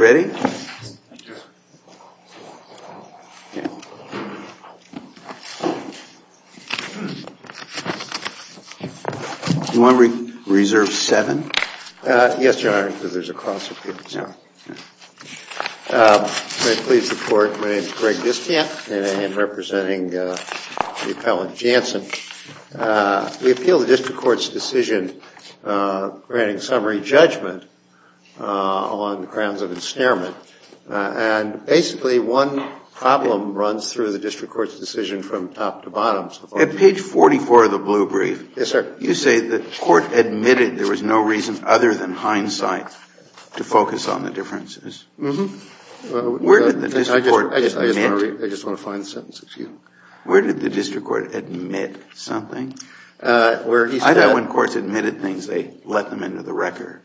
Do you want to reserve seven? Yes, your honor. May it please the court, my name is Greg Distant and I am representing the appellant Janssen. We appeal the district court's decision granting summary judgment on grounds of ensnarement. And basically one problem runs through the district court's decision from top to bottom. At page 44 of the blue brief, you say the court admitted there was no reason other than hindsight to focus on the differences. Where did the district court admit? I just want to find the sentence, excuse me. Where did the district court admit something? I know when courts admitted things they let them into the record.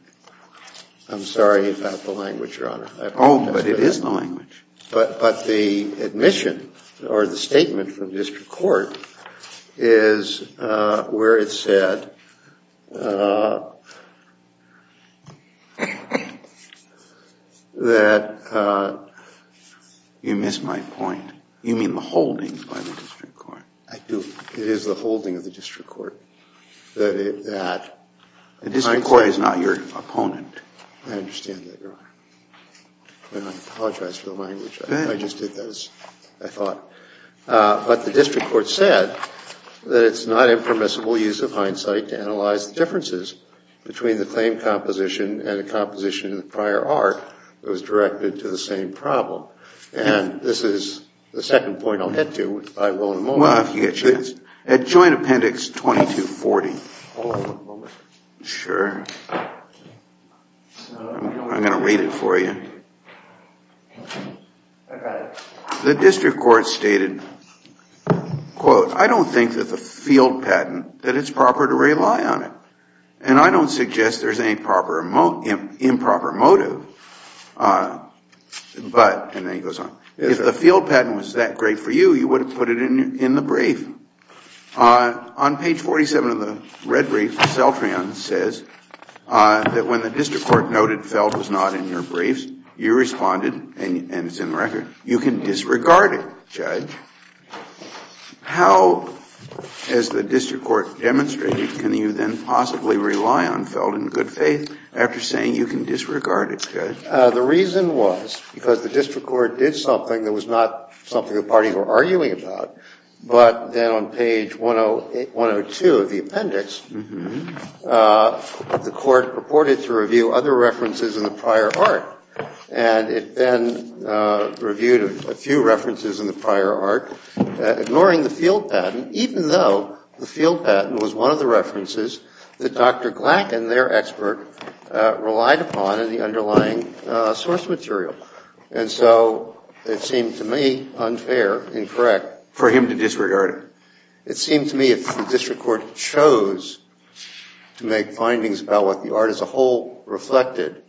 I'm sorry about the language, your honor. Oh, but it is the language. But the admission or the statement from district court is where it said that... You missed my point. You mean the holding by the district court. I do. It is the holding of the district court that... The district court is not your opponent. I understand that, your honor. I apologize for the language. I just did that as I thought. But the district court said that it's not impermissible use of hindsight to analyze the differences between the claim composition and the composition of the prior art that was directed to the same problem. And this is the second point I'll get to, if I will in a moment. Well, if you get a chance. At joint appendix 2240. Hold on one moment. Sure. I'm going to read it for you. The district court stated, quote, I don't think that the field patent, that it's proper to rely on it. And I don't suggest there's any improper motive, but... And then he goes on. If the field patent was that great for you, you would have put it in the brief. On page 47 of the red brief, Celtrion says that when the district court noted felt was not in your briefs, you responded, and it's in the record, you can disregard it, judge. How has the district court demonstrated can you then possibly rely on felt in good faith after saying you can disregard it, judge? The reason was because the district court did something that was not something the parties were arguing about, but then on page 102 of the appendix, the court purported to review other references in the prior art. And it then reviewed a few references in the prior art, ignoring the field patent, even though the field patent was one of the references that Dr. Glack and their expert relied upon in the underlying source material. And so it seemed to me unfair, incorrect. For him to disregard it. It seemed to me if the district court chose to make findings about what the art as a whole reflected,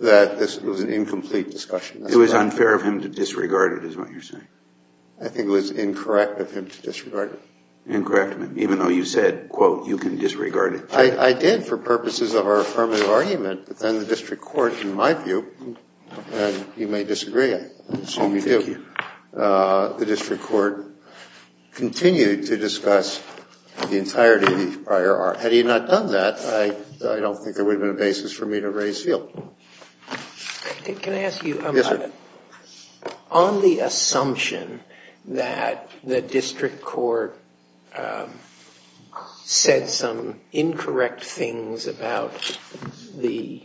that this was an incomplete discussion. It was unfair of him to disregard it is what you're saying. I think it was incorrect of him to disregard it. Incorrect, even though you said, quote, you can disregard it. I did for purposes of our affirmative argument, but then the district court, in my view, and you may disagree, I assume you do. Thank you. The district court continued to discuss the entirety of the prior art. Had he not done that, I don't think there would have been a basis for me to raise the field. Can I ask you about it? On the assumption that the district court said some incorrect things about the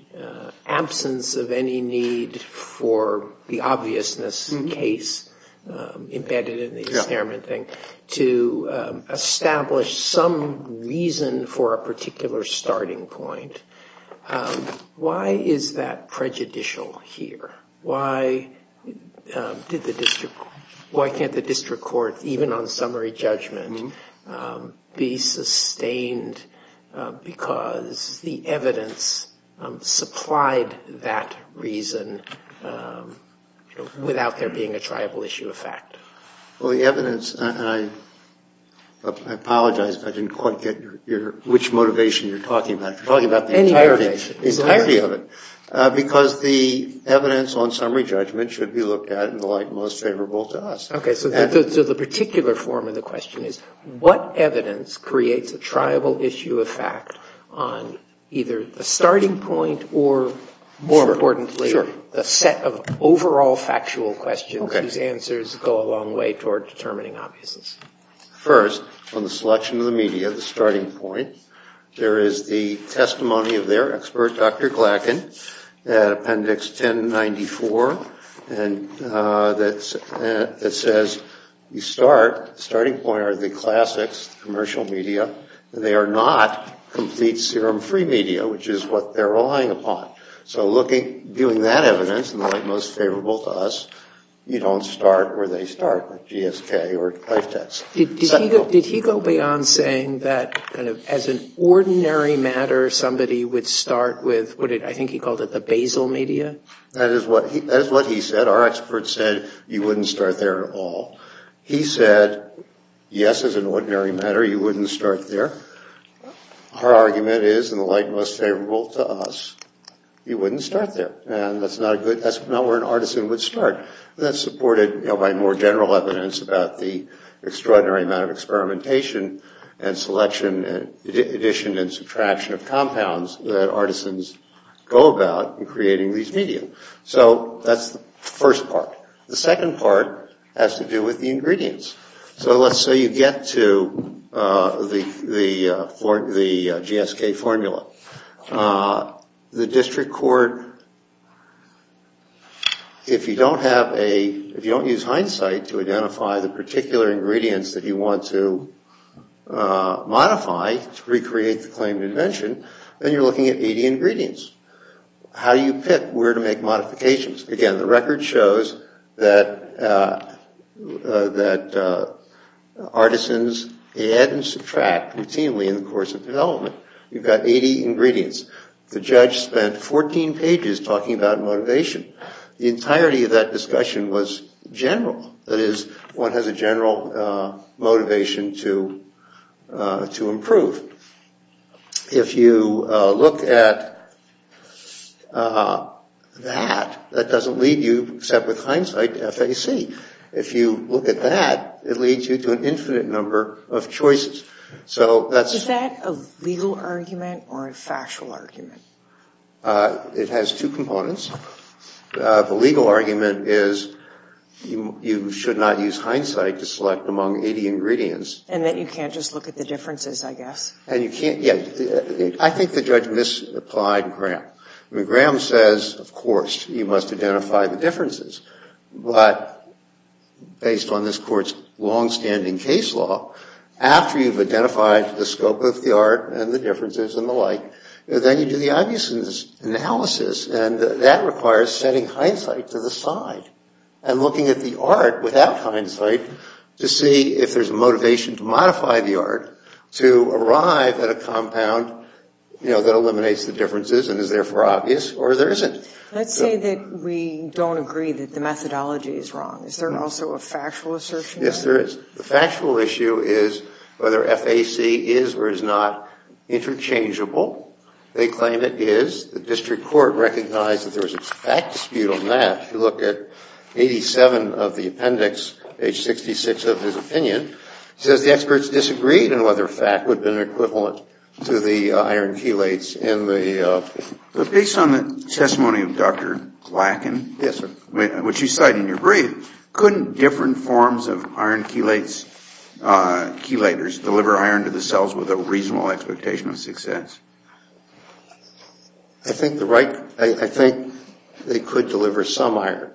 absence of any need for the obviousness case embedded in the experiment thing to establish some reason for a particular starting point. Why is that prejudicial here? Why can't the district court, even on summary judgment, be sustained because the evidence supplied that reason without there being a tribal issue of fact? Well, the evidence, and I apologize, but I didn't quite get which motivation you're talking about. You're talking about the entirety of it. Because the evidence on summary judgment should be looked at in the light most favorable to us. Okay, so the particular form of the question is, what evidence creates a tribal issue of fact on either the starting point or, more importantly, the set of overall factual questions whose answers go a long way toward determining obviousness? First, on the selection of the media, the starting point, there is the testimony of their expert, Dr. Glackin, at appendix 1094. And it says, you start, starting point are the classics, the commercial media, and they are not complete serum-free media, which is what they're relying upon. So looking, viewing that evidence in the light most favorable to us, you don't start where they start with GSK or life tests. Did he go beyond saying that as an ordinary matter, somebody would start with, I think he called it the basal media? That is what he said. Our expert said you wouldn't start there at all. He said, yes, as an ordinary matter, you wouldn't start there. Our argument is, in the light most favorable to us, you wouldn't start there. And that's not a good, that's not where an artisan would start. And that's supported by more general evidence about the extraordinary amount of experimentation and selection and addition and subtraction of compounds that artisans go about in creating these media. So that's the first part. The second part has to do with the ingredients. So let's say you get to the GSK formula. The district court, if you don't have a, if you don't use hindsight to identify the particular ingredients that you want to modify to recreate the claim to invention, then you're looking at 80 ingredients. How do you pick where to make modifications? Again, the record shows that artisans add and subtract routinely in the course of development. You've got 80 ingredients. The judge spent 14 pages talking about motivation. The entirety of that discussion was general. That is, one has a general motivation to improve. If you look at that, that doesn't lead you except with hindsight to FAC. If you look at that, it leads you to an infinite number of choices. So that's... Is that a legal argument or a factual argument? It has two components. The legal argument is you should not use hindsight to select among 80 ingredients. And that you can't just look at the differences, I guess. And you can't, yeah. I think the judge misapplied Graham. I mean, Graham says, of course, you must identify the differences. But based on this Court's longstanding case law, after you've identified the scope of the art and the differences and the like, then you do the obvious analysis. And that requires setting hindsight to the side and looking at the art without hindsight to see if there's a motivation to modify the art to arrive at a compound, you know, that eliminates the differences and is therefore obvious or there isn't. Let's say that we don't agree that the methodology is wrong. Is there also a factual assertion? Yes, there is. The factual issue is whether FAC is or is not interchangeable. They claim it is. The district court recognized that there was a fact dispute on that. If you look at 87 of the appendix, page 66 of his opinion, it says the experts disagreed on whether FAC would have been equivalent to the iron chelates in the... But based on the testimony of Dr. Glackin... Yes, sir. ...which you cite in your brief, couldn't different forms of iron chelators deliver iron to the cells with a reasonable expectation of success? I think they could deliver some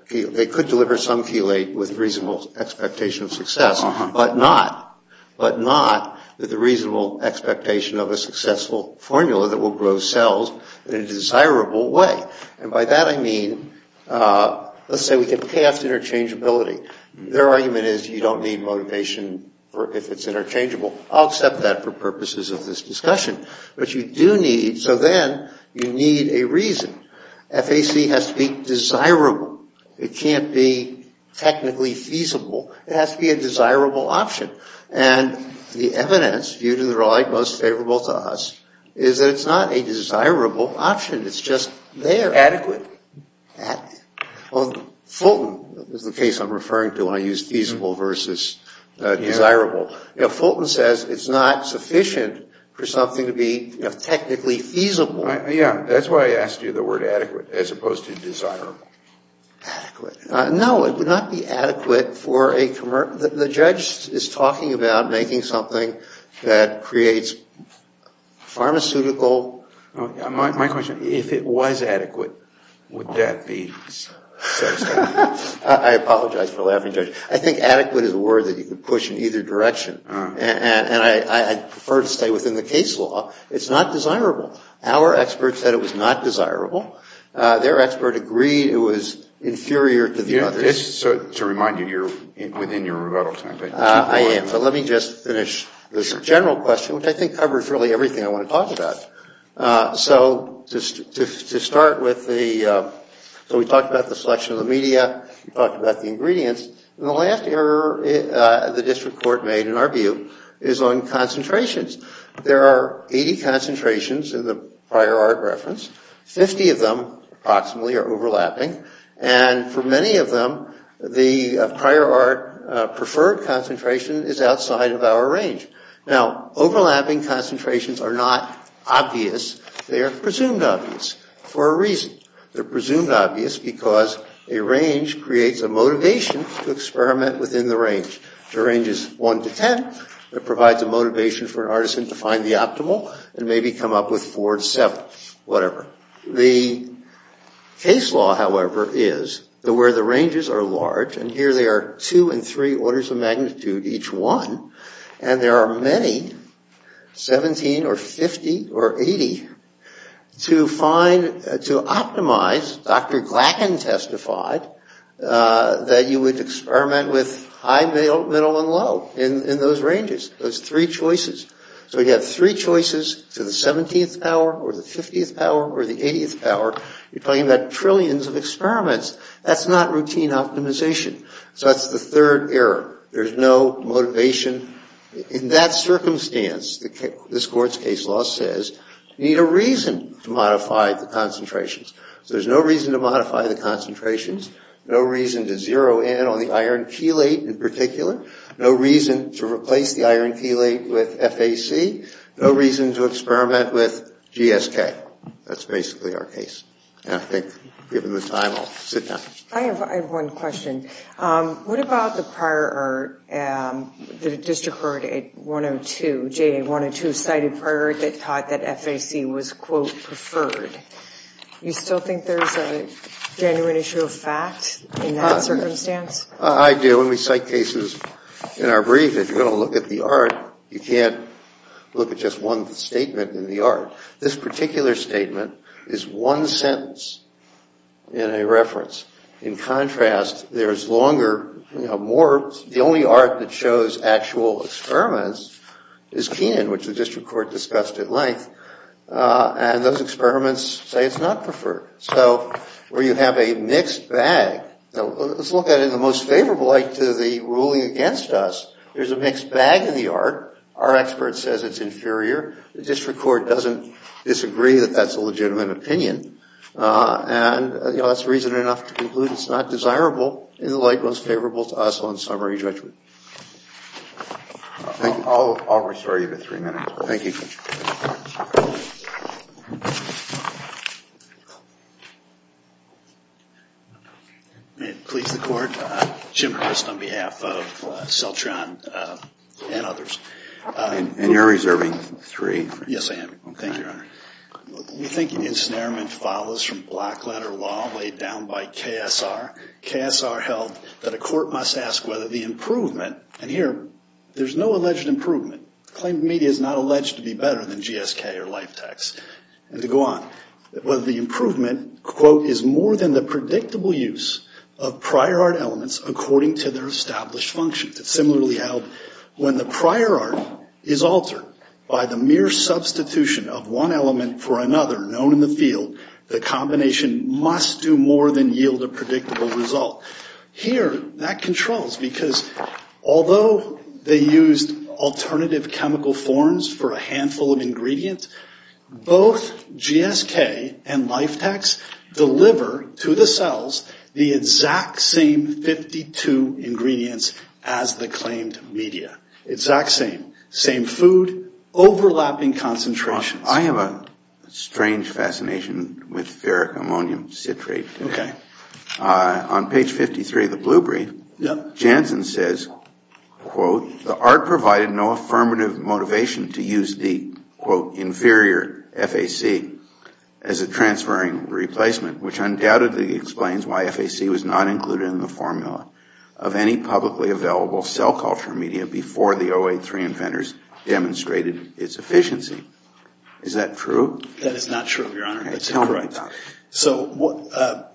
chelate with reasonable expectation of success, but not with the reasonable expectation of a successful formula that will grow cells in a desirable way. And by that I mean, let's say we can pass interchangeability. Their argument is you don't need motivation if it's interchangeable. I'll accept that for purposes of this discussion. But you do need, so then you need a reason. FAC has to be desirable. It can't be technically feasible. It has to be a desirable option. And the evidence, viewed in the right most favorable to us, is that it's not a desirable option. It's just there. Adequate. Fulton is the case I'm referring to when I use feasible versus desirable. Fulton says it's not sufficient for something to be technically feasible. Yeah, that's why I asked you the word adequate as opposed to desirable. Adequate. No, it would not be adequate for a commercial. The judge is talking about making something that creates pharmaceutical. My question, if it was adequate, would that be satisfactory? I apologize for laughing, Judge. I think adequate is a word that you could push in either direction. And I prefer to stay within the case law. It's not desirable. Our experts said it was not desirable. Their expert agreed it was inferior to the others. To remind you, you're within your rebuttal time. I am. But let me just finish this general question, which I think covers really everything I want to talk about. So to start with, we talked about the selection of the media. We talked about the ingredients. And the last error the district court made, in our view, is on concentrations. There are 80 concentrations in the prior art reference. 50 of them, approximately, are overlapping. And for many of them, the prior art preferred concentration is outside of our range. Now, overlapping concentrations are not obvious. They are presumed obvious for a reason. They're presumed obvious because a range creates a motivation to experiment within the range. The range is 1 to 10. It provides a motivation for an artisan to find the optimal and maybe come up with 4 to 7. Whatever. The case law, however, is that where the ranges are large, and here they are 2 and 3 orders of magnitude, each one, and there are many, 17 or 50 or 80, to find, to optimize, Dr. Glackin testified, that you would experiment with high, middle, and low in those ranges. Those three choices. So you have three choices to the 17th power or the 50th power or the 80th power. You're talking about trillions of experiments. That's not routine optimization. So that's the third error. There's no motivation. In that circumstance, this court's case law says, you need a reason to modify the concentrations. So there's no reason to modify the concentrations, no reason to zero in on the iron chelate in particular, no reason to replace the iron chelate with FAC, no reason to experiment with GSK. That's basically our case. And I think, given the time, I'll sit down. I have one question. What about the prior art, the district court at 102, J.A. 102 cited prior art that taught that FAC was, quote, preferred. You still think there's a genuine issue of fact in that circumstance? I do. When we cite cases in our brief, if you're going to look at the art, you can't look at just one statement in the art. This particular statement is one sentence in a reference. In contrast, there is longer, you know, more. The only art that shows actual experiments is Keenan, which the district court discussed at length. And those experiments say it's not preferred. So where you have a mixed bag, let's look at it in the most favorable light to the ruling against us. There's a mixed bag in the art. Our expert says it's inferior. The district court doesn't disagree that that's a legitimate opinion. And, you know, that's reason enough to conclude it's not desirable in the light most favorable to us on summary judgment. I'll restore you to three minutes. Thank you. May it please the court. Jim Hurst on behalf of Celtron and others. And you're reserving three. Yes, I am. Thank you, Your Honor. We think ensnarement follows from block letter law laid down by KSR. KSR held that a court must ask whether the improvement, and here there's no alleged improvement. Claimed media is not alleged to be better than GSK or Life Tax. And to go on. Whether the improvement, quote, is more than the predictable use of prior art elements according to their established functions. It's similarly held when the prior art is altered by the mere substitution of one element for another known in the field, the combination must do more than yield a predictable result. Here that controls because although they used alternative chemical forms for a handful of ingredients, both GSK and Life Tax deliver to the cells the exact same 52 ingredients as the claimed media. Exact same. Same food. Overlapping concentrations. Your Honor, I have a strange fascination with ferric ammonium citrate. Okay. On page 53 of the blue brief, Janssen says, quote, the art provided no affirmative motivation to use the, quote, inferior FAC as a transferring replacement, which undoubtedly explains why FAC was not included in the formula of any publicly available cell culture media before the 083 inventors demonstrated its efficiency. Is that true? That is not true, Your Honor. That's incorrect. Okay. Tell me about it. So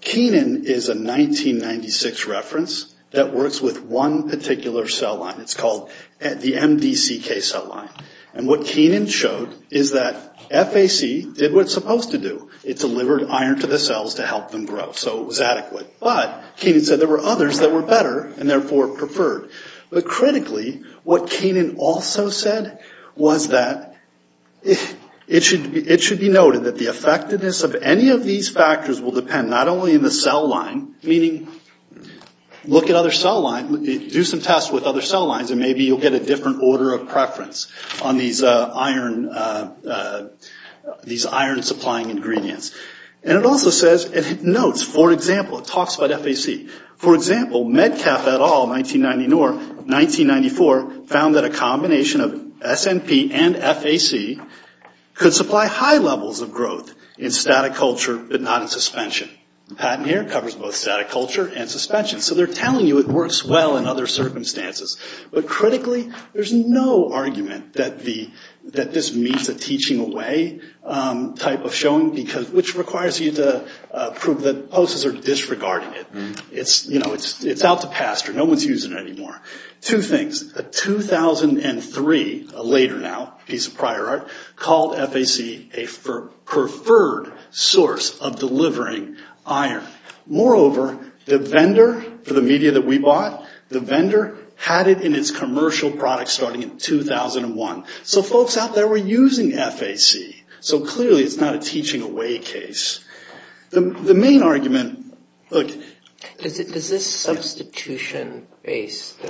Kenan is a 1996 reference that works with one particular cell line. It's called the MDCK cell line. And what Kenan showed is that FAC did what it's supposed to do. It delivered iron to the cells to help them grow. So it was adequate. But Kenan said there were others that were better and therefore preferred. But critically, what Kenan also said was that it should be noted that the effectiveness of any of these factors will depend not only on the cell line, meaning look at other cell lines, do some tests with other cell lines, and maybe you'll get a different order of preference on these iron supplying ingredients. And it also says, it notes, for example, it talks about FAC. For example, Medcalf et al., 1994, found that a combination of SNP and FAC could supply high levels of growth in static culture but not in suspension. The patent here covers both static culture and suspension. So they're telling you it works well in other circumstances. But critically, there's no argument that this means a teaching away type of showing, which requires you to prove that hosts are disregarding it. It's out to pasture. No one's using it anymore. Two things. A 2003, a later now, piece of prior art, called FAC a preferred source of delivering iron. Moreover, the vendor for the media that we bought, the vendor had it in its commercial product starting in 2001. So folks out there were using FAC. So clearly it's not a teaching away case. The main argument, look. Does this substitution-based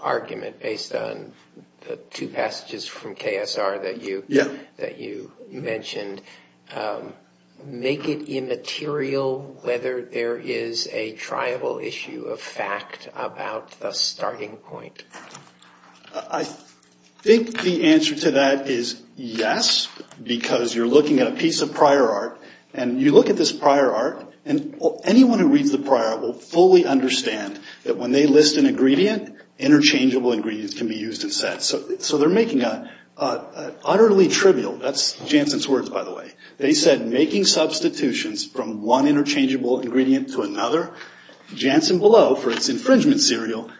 argument, based on the two passages from KSR that you mentioned, make it immaterial whether there is a triable issue of fact about the starting point? I think the answer to that is yes, because you're looking at a piece of prior art, and you look at this prior art, and anyone who reads the prior art will fully understand that when they list an ingredient, interchangeable ingredients can be used instead. So they're making an utterly trivial, that's Jansen's words by the way, they said making substitutions from one interchangeable ingredient to another. Jansen below, for its infringement serial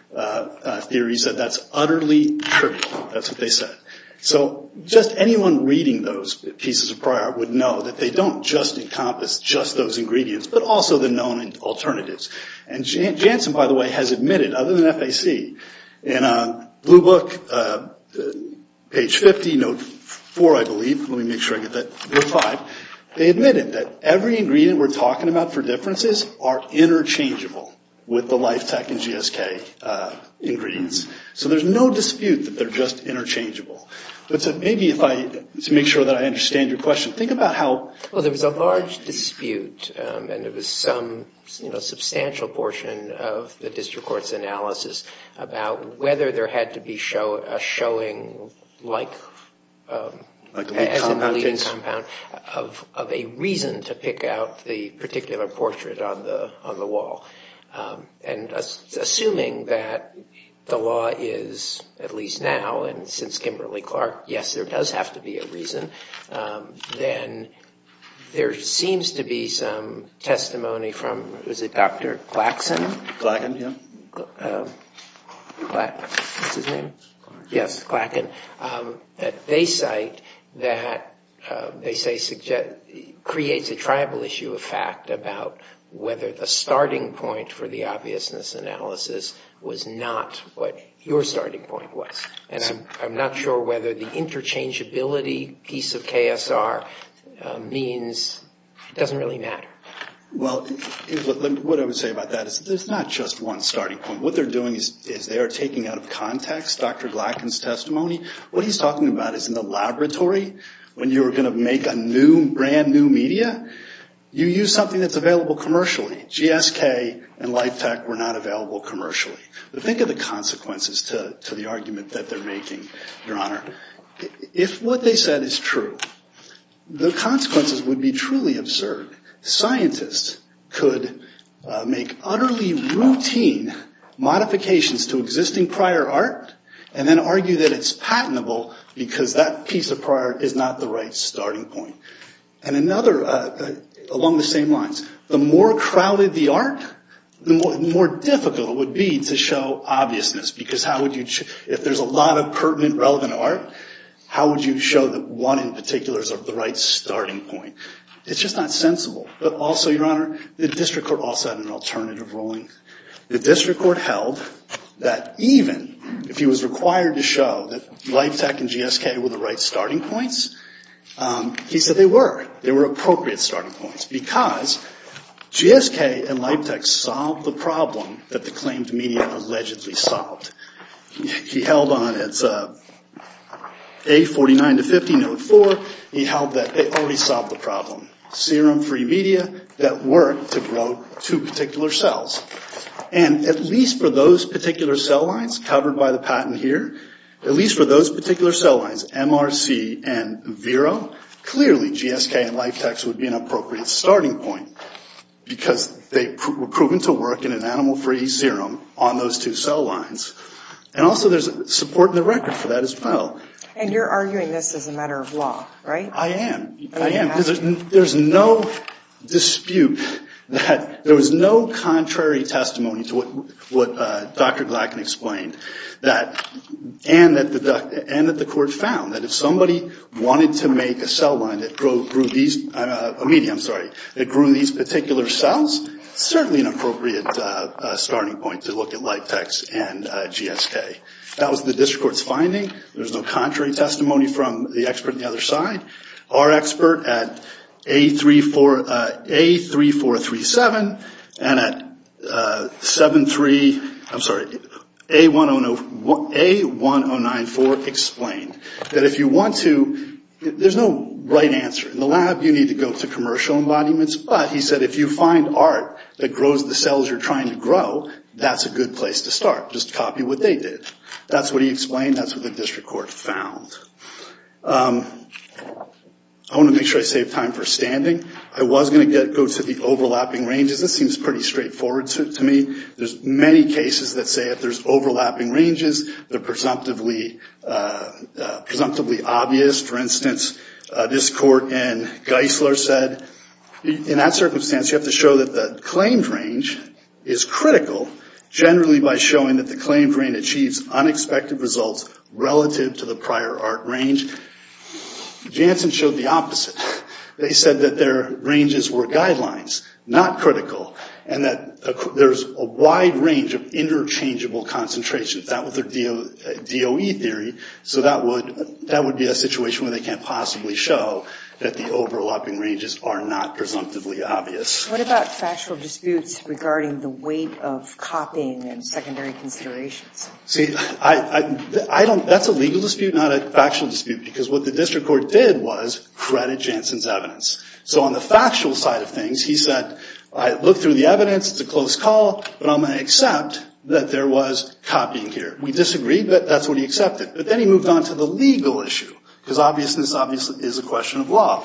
theory, said that's utterly trivial. That's what they said. So just anyone reading those pieces of prior art would know that they don't just encompass just those ingredients, but also the known alternatives. And Jansen, by the way, has admitted, other than FAC, in a blue book, page 50, note 4 I believe, let me make sure I get that, note 5, they admitted that every ingredient we're talking about for differences are interchangeable with the LIFETEC and GSK ingredients. So there's no dispute that they're just interchangeable. But maybe if I, to make sure that I understand your question, think about how... Well, there was a large dispute, and it was some substantial portion of the district court's analysis about whether there had to be a showing like... Like a lead compound case? Of a reason to pick out the particular portrait on the wall. And assuming that the law is, at least now, and since Kimberly-Clark, yes, there does have to be a reason, then there seems to be some testimony from, was it Dr. Clackson? Clacken, yeah. What's his name? Clark. Yes, Clacken, that they cite that they say creates a tribal issue of fact about whether the starting point for the obviousness analysis was not what your starting point was. And I'm not sure whether the interchangeability piece of KSR means it doesn't really matter. Well, what I would say about that is there's not just one starting point. What they're doing is they are taking out of context Dr. Clacken's testimony. What he's talking about is in the laboratory, when you were going to make a new, brand new media, you use something that's available commercially. GSK and LifeTech were not available commercially. But think of the consequences to the argument that they're making, Your Honor. If what they said is true, the consequences would be truly absurd. Scientists could make utterly routine modifications to existing prior art and then argue that it's patentable because that piece of prior art is not the right starting point. And another, along the same lines, the more crowded the art, the more difficult it would be to show obviousness. Because if there's a lot of pertinent, relevant art, how would you show that one in particular is the right starting point? It's just not sensible. But also, Your Honor, the district court also had an alternative ruling. The district court held that even if he was required to show that LifeTech and GSK were the right starting points, he said they were. They were appropriate starting points. Because GSK and LifeTech solved the problem that the claimed media allegedly solved. He held on. It's A49 to 50, note 4. He held that they already solved the problem. Serum-free media that worked to grow two particular cells. And at least for those particular cell lines covered by the patent here, at least for those particular cell lines, MRC and Vero, clearly GSK and LifeTech would be an appropriate starting point. Because they were proven to work in an animal-free serum on those two cell lines. And also, there's support in the record for that as well. And you're arguing this as a matter of law, right? I am. I am. Because there's no dispute that there was no contrary testimony to what Dr. Glackin explained. And that the court found that if somebody wanted to make a cell line that grew these particular cells, it's certainly an appropriate starting point to look at LifeTech and GSK. That was the district court's finding. There's no contrary testimony from the expert on the other side. Our expert at A3437 and at A1094 explained that if you want to, there's no right answer. In the lab, you need to go to commercial embodiments. But he said if you find art that grows the cells you're trying to grow, that's a good place to start. Just copy what they did. That's what he explained. That's what the district court found. I want to make sure I save time for standing. I was going to go to the overlapping ranges. This seems pretty straightforward to me. There's many cases that say if there's overlapping ranges, they're presumptively obvious. For instance, this court in Geisler said in that circumstance, you have to show that the claimed range is critical, generally by showing that the claimed range achieves unexpected results relative to the prior art range. Janssen showed the opposite. They said that their ranges were guidelines, not critical, and that there's a wide range of interchangeable concentrations. That was their DOE theory. So that would be a situation where they can't possibly show that the overlapping ranges are not presumptively obvious. What about factual disputes regarding the weight of copying and secondary considerations? See, that's a legal dispute, not a factual dispute, because what the district court did was credit Janssen's evidence. So on the factual side of things, he said, I looked through the evidence, it's a close call, but I'm going to accept that there was copying here. We disagreed, but that's what he accepted. But then he moved on to the legal issue, because obviousness obviously is a question of law.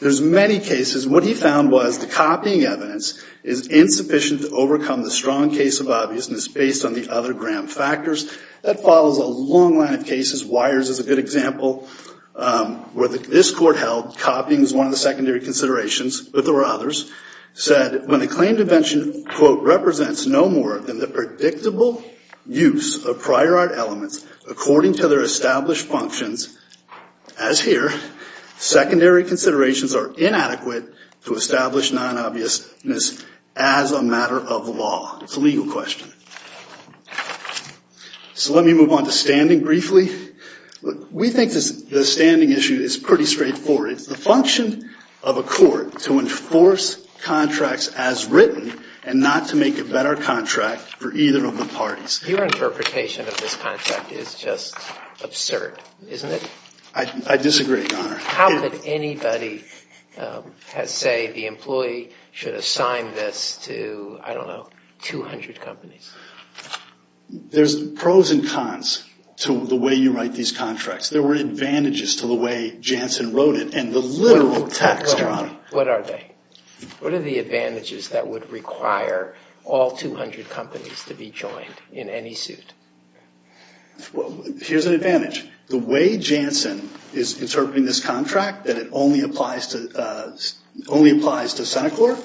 There's many cases. What he found was the copying evidence is insufficient to overcome the strong case of obviousness based on the other gram factors. That follows a long line of cases. Wires is a good example where this court held copying is one of the secondary considerations, but there were others. Said when the claim to mention, quote, represents no more than the predictable use of prior art elements according to their established functions, as here, secondary considerations are inadequate to establish non-obviousness as a matter of law. It's a legal question. So let me move on to standing briefly. We think the standing issue is pretty straightforward. It's the function of a court to enforce contracts as written and not to make a better contract for either of the parties. Your interpretation of this contract is just absurd, isn't it? I disagree, Your Honor. How could anybody say the employee should assign this to, I don't know, 200 companies? There's pros and cons to the way you write these contracts. There were advantages to the way Jansen wrote it and the literal text, Your Honor. What are they? What are the advantages that would require all 200 companies to be joined in any suit? Well, here's an advantage. The way Jansen is interpreting this contract, that it only applies to Senate court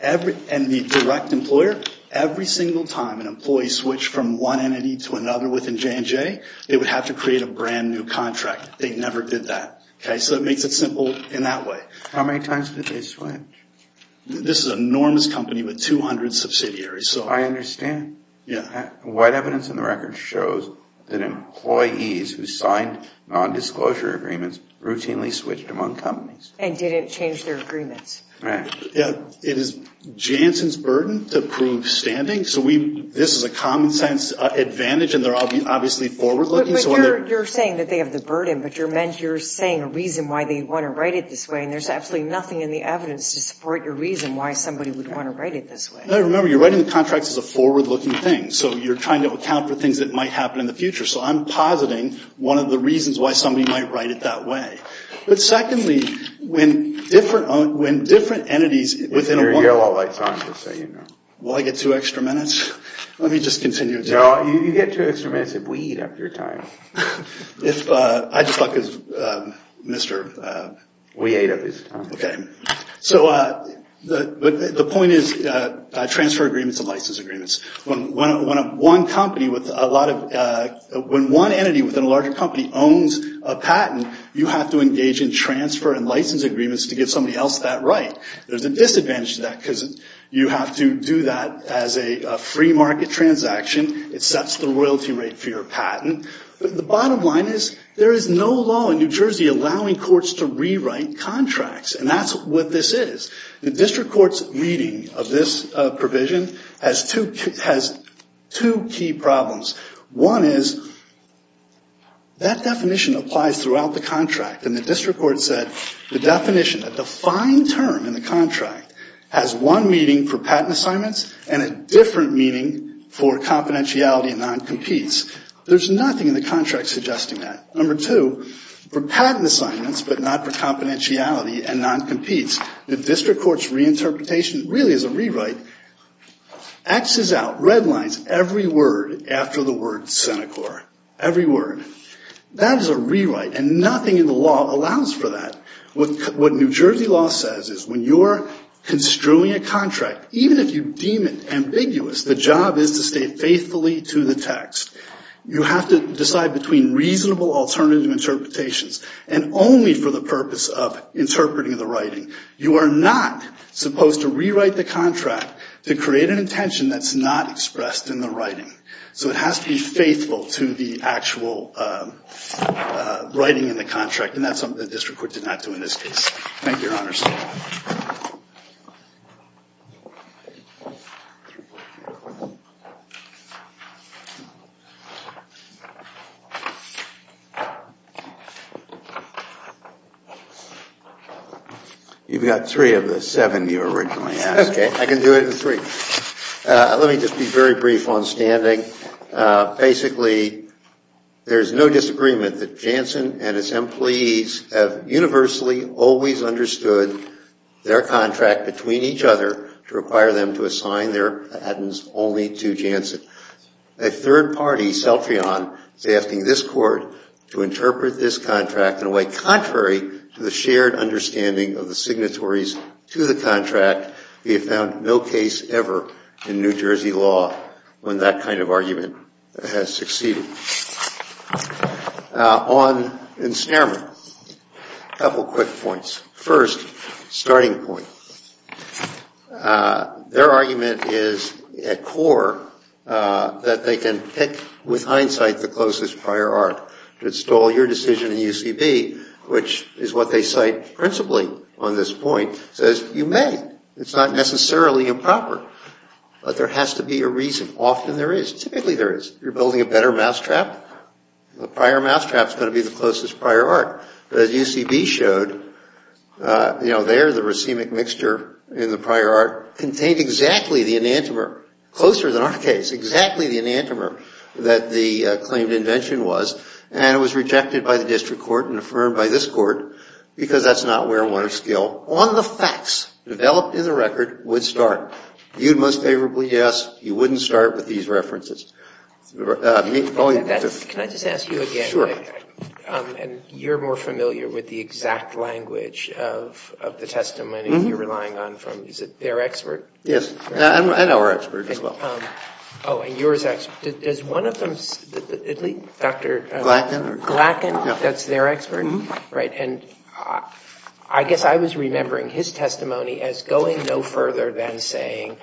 and the direct employer, every single time an employee switched from one entity to another within J&J, they would have to create a brand new contract. They never did that. So it makes it simple in that way. How many times did they switch? This is an enormous company with 200 subsidiaries. I understand. White evidence in the record shows that employees who signed nondisclosure agreements routinely switched among companies. And didn't change their agreements. Right. It is Jansen's burden to prove standing. So this is a common-sense advantage, and they're obviously forward-looking. But you're saying that they have the burden, but you're saying a reason why they want to write it this way, and there's absolutely nothing in the evidence to support your reason why somebody would want to write it this way. Remember, you're writing the contracts as a forward-looking thing. So you're trying to account for things that might happen in the future. So I'm positing one of the reasons why somebody might write it that way. But secondly, when different entities within a one- Is your yellow light on just so you know? Will I get two extra minutes? Let me just continue. You get two extra minutes if we eat up your time. I just thought because Mr. We ate up his time. Okay. So the point is transfer agreements and license agreements. When one entity within a larger company owns a patent, you have to engage in transfer and license agreements to get somebody else that right. There's a disadvantage to that because you have to do that as a free market transaction. It sets the royalty rate for your patent. But the bottom line is there is no law in New Jersey allowing courts to rewrite contracts. And that's what this is. The district court's reading of this provision has two key problems. One is that definition applies throughout the contract. And the district court said the definition, the defined term in the contract, has one meaning for patent assignments and a different meaning for confidentiality and non-competes. There's nothing in the contract suggesting that. Number two, for patent assignments but not for confidentiality and non-competes, the district court's reinterpretation really is a rewrite. X is out. Red lines. Every word after the word Senecor. Every word. That is a rewrite. And nothing in the law allows for that. What New Jersey law says is when you're construing a contract, even if you deem it ambiguous, the job is to stay faithfully to the text. You have to decide between reasonable alternative interpretations and only for the purpose of interpreting the writing. You are not supposed to rewrite the contract to create an intention that's not expressed in the writing. So it has to be faithful to the actual writing in the contract, and that's something the district court did not do in this case. Thank you, Your Honors. You've got three of the seven you originally asked for. I can do it in three. Let me just be very brief on standing. Basically, there's no disagreement that Jansen and its employees have universally always understood their contract between each other to require them to assign their patents only to Jansen. A third party, Celtrion, is asking this court to interpret this contract in a way contrary to the shared understanding of the signatories to the contract. We have found no case ever in New Jersey law when that kind of argument has succeeded. On ensnarement, a couple of quick points. First, starting point. Their argument is at core that they can pick with hindsight the closest prior art to install your decision in UCB, which is what they cite principally on this point, says you may. It's not necessarily improper, but there has to be a reason. Often there is. Typically there is. You're building a better mousetrap. The prior mousetrap is going to be the closest prior art. But as UCB showed, you know, there the racemic mixture in the prior art contained exactly the enantiomer, closer than our case, exactly the enantiomer that the claimed invention was, and it was rejected by the district court and affirmed by this court because that's not where one or skill on the facts developed in the record would start. Viewed most favorably, yes. You wouldn't start with these references. Can I just ask you again? Sure. And you're more familiar with the exact language of the testimony you're relying on from, is it their expert? Yes, and our expert as well. Oh, and yours, does one of them, at least Dr. Glackin. Glackin, that's their expert? Right, and I guess I was remembering his testimony as going no further than saying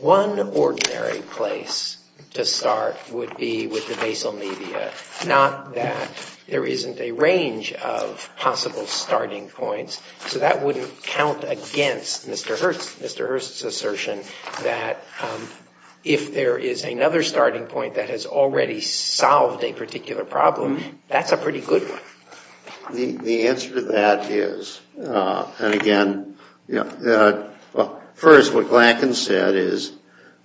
one ordinary place to start would be with the basal media, not that there isn't a range of possible starting points, so that wouldn't count against Mr. Hurst's assertion that if there is another starting point that has already solved a particular problem, that's a pretty good one. The answer to that is, and again, first what Glackin said is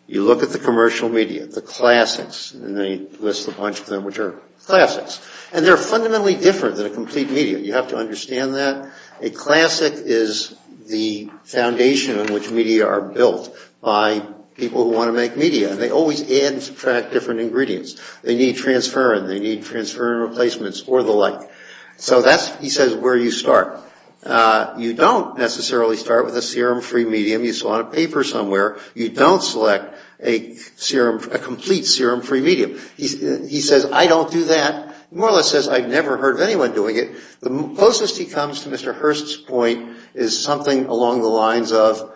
you look at the commercial media, the classics, and they list a bunch of them which are classics, and they're fundamentally different than a complete media. You have to understand that. A classic is the foundation on which media are built by people who want to make media, and they always add and subtract different ingredients. They need transferrin. They need transferrin replacements or the like. So that's, he says, where you start. You don't necessarily start with a serum-free medium. You saw on a paper somewhere you don't select a serum, a complete serum-free medium. He says, I don't do that. More or less says I've never heard of anyone doing it. The closest he comes to Mr. Hurst's point is something along the lines of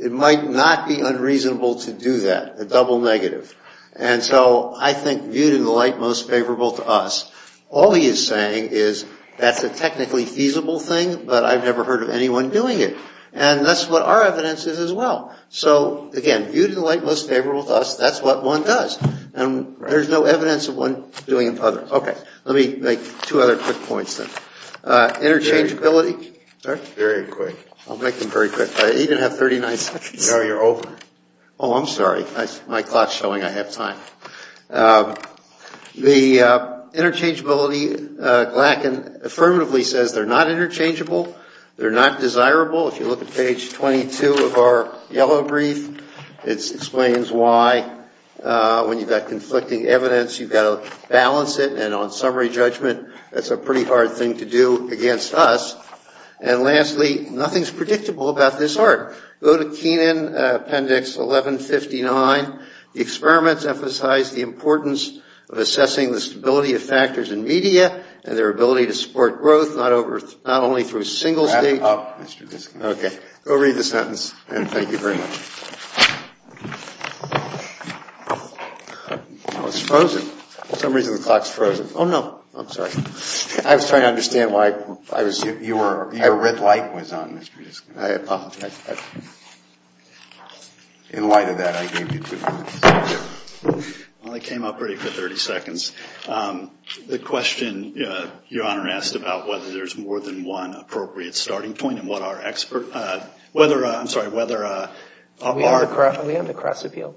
it might not be unreasonable to do that, a double negative. And so I think viewed in the light most favorable to us, all he is saying is that's a technically feasible thing, but I've never heard of anyone doing it. And that's what our evidence is as well. So, again, viewed in the light most favorable to us, that's what one does. And there's no evidence of one doing it to others. Okay. Let me make two other quick points then. Interchangeability. Very quick. I'll make them very quick. I even have 39 seconds. Gary, you're over. Oh, I'm sorry. My clock's showing I have time. The interchangeability, Glackin affirmatively says they're not interchangeable. They're not desirable. If you look at page 22 of our yellow brief, it explains why when you've got conflicting evidence, you've got to balance it. And on summary judgment, that's a pretty hard thing to do against us. And lastly, nothing's predictable about this art. Go to Kenan Appendix 1159. The experiments emphasize the importance of assessing the stability of factors in media and their ability to support growth not only through single state. Wrap up, Mr. Diskin. Okay. Go read the sentence. And thank you very much. Oh, it's frozen. For some reason the clock's frozen. Oh, no. I'm sorry. I was trying to understand why I was. Your red light was on, Mr. Diskin. I apologize. In light of that, I gave you two minutes. Well, I came up ready for 30 seconds. The question Your Honor asked about whether there's more than one appropriate starting point and what our expert, whether, I'm sorry, whether our. We have the cross appeal.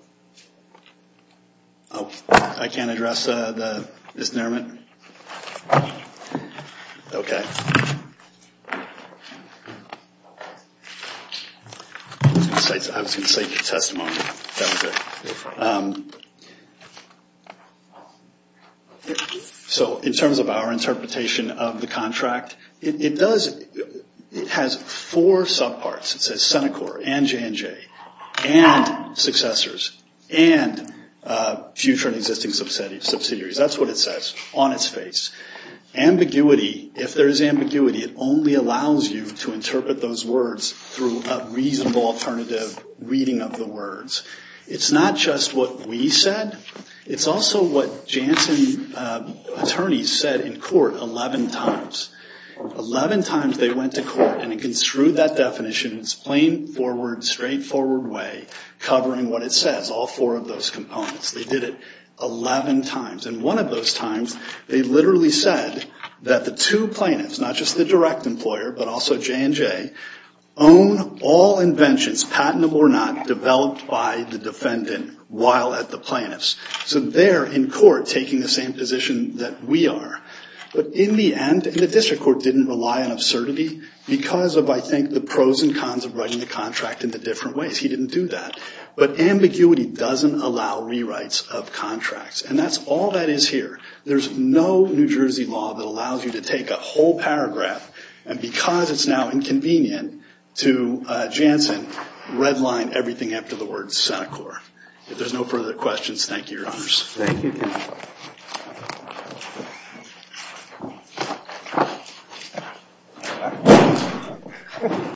Oh, I can't address the, Ms. Nairman? Okay. I was going to say testimony. That was it. So in terms of our interpretation of the contract, it does, it has four subparts. It says CENICOR and J&J and successors and future and existing subsidiaries. That's what it says on its face. Ambiguity, if there's ambiguity, it only allows you to interpret those words through a reasonable alternative reading of the words. It's not just what we said. It's also what Janssen attorneys said in court 11 times. 11 times they went to court and construed that definition in its plain, straightforward way, covering what it says, all four of those components. They did it 11 times. And one of those times they literally said that the two plaintiffs, not just the direct employer but also J&J, own all inventions, patentable or not, developed by the defendant while at the plaintiffs. So they're in court taking the same position that we are. But in the end, the district court didn't rely on absurdity because of, I think, the pros and cons of writing the contract in the different ways. He didn't do that. But ambiguity doesn't allow rewrites of contracts. And that's all that is here. There's no New Jersey law that allows you to take a whole paragraph and, because it's now inconvenient to Janssen, redline everything after the word Seneca. If there's no further questions, thank you, Your Honors. Thank you.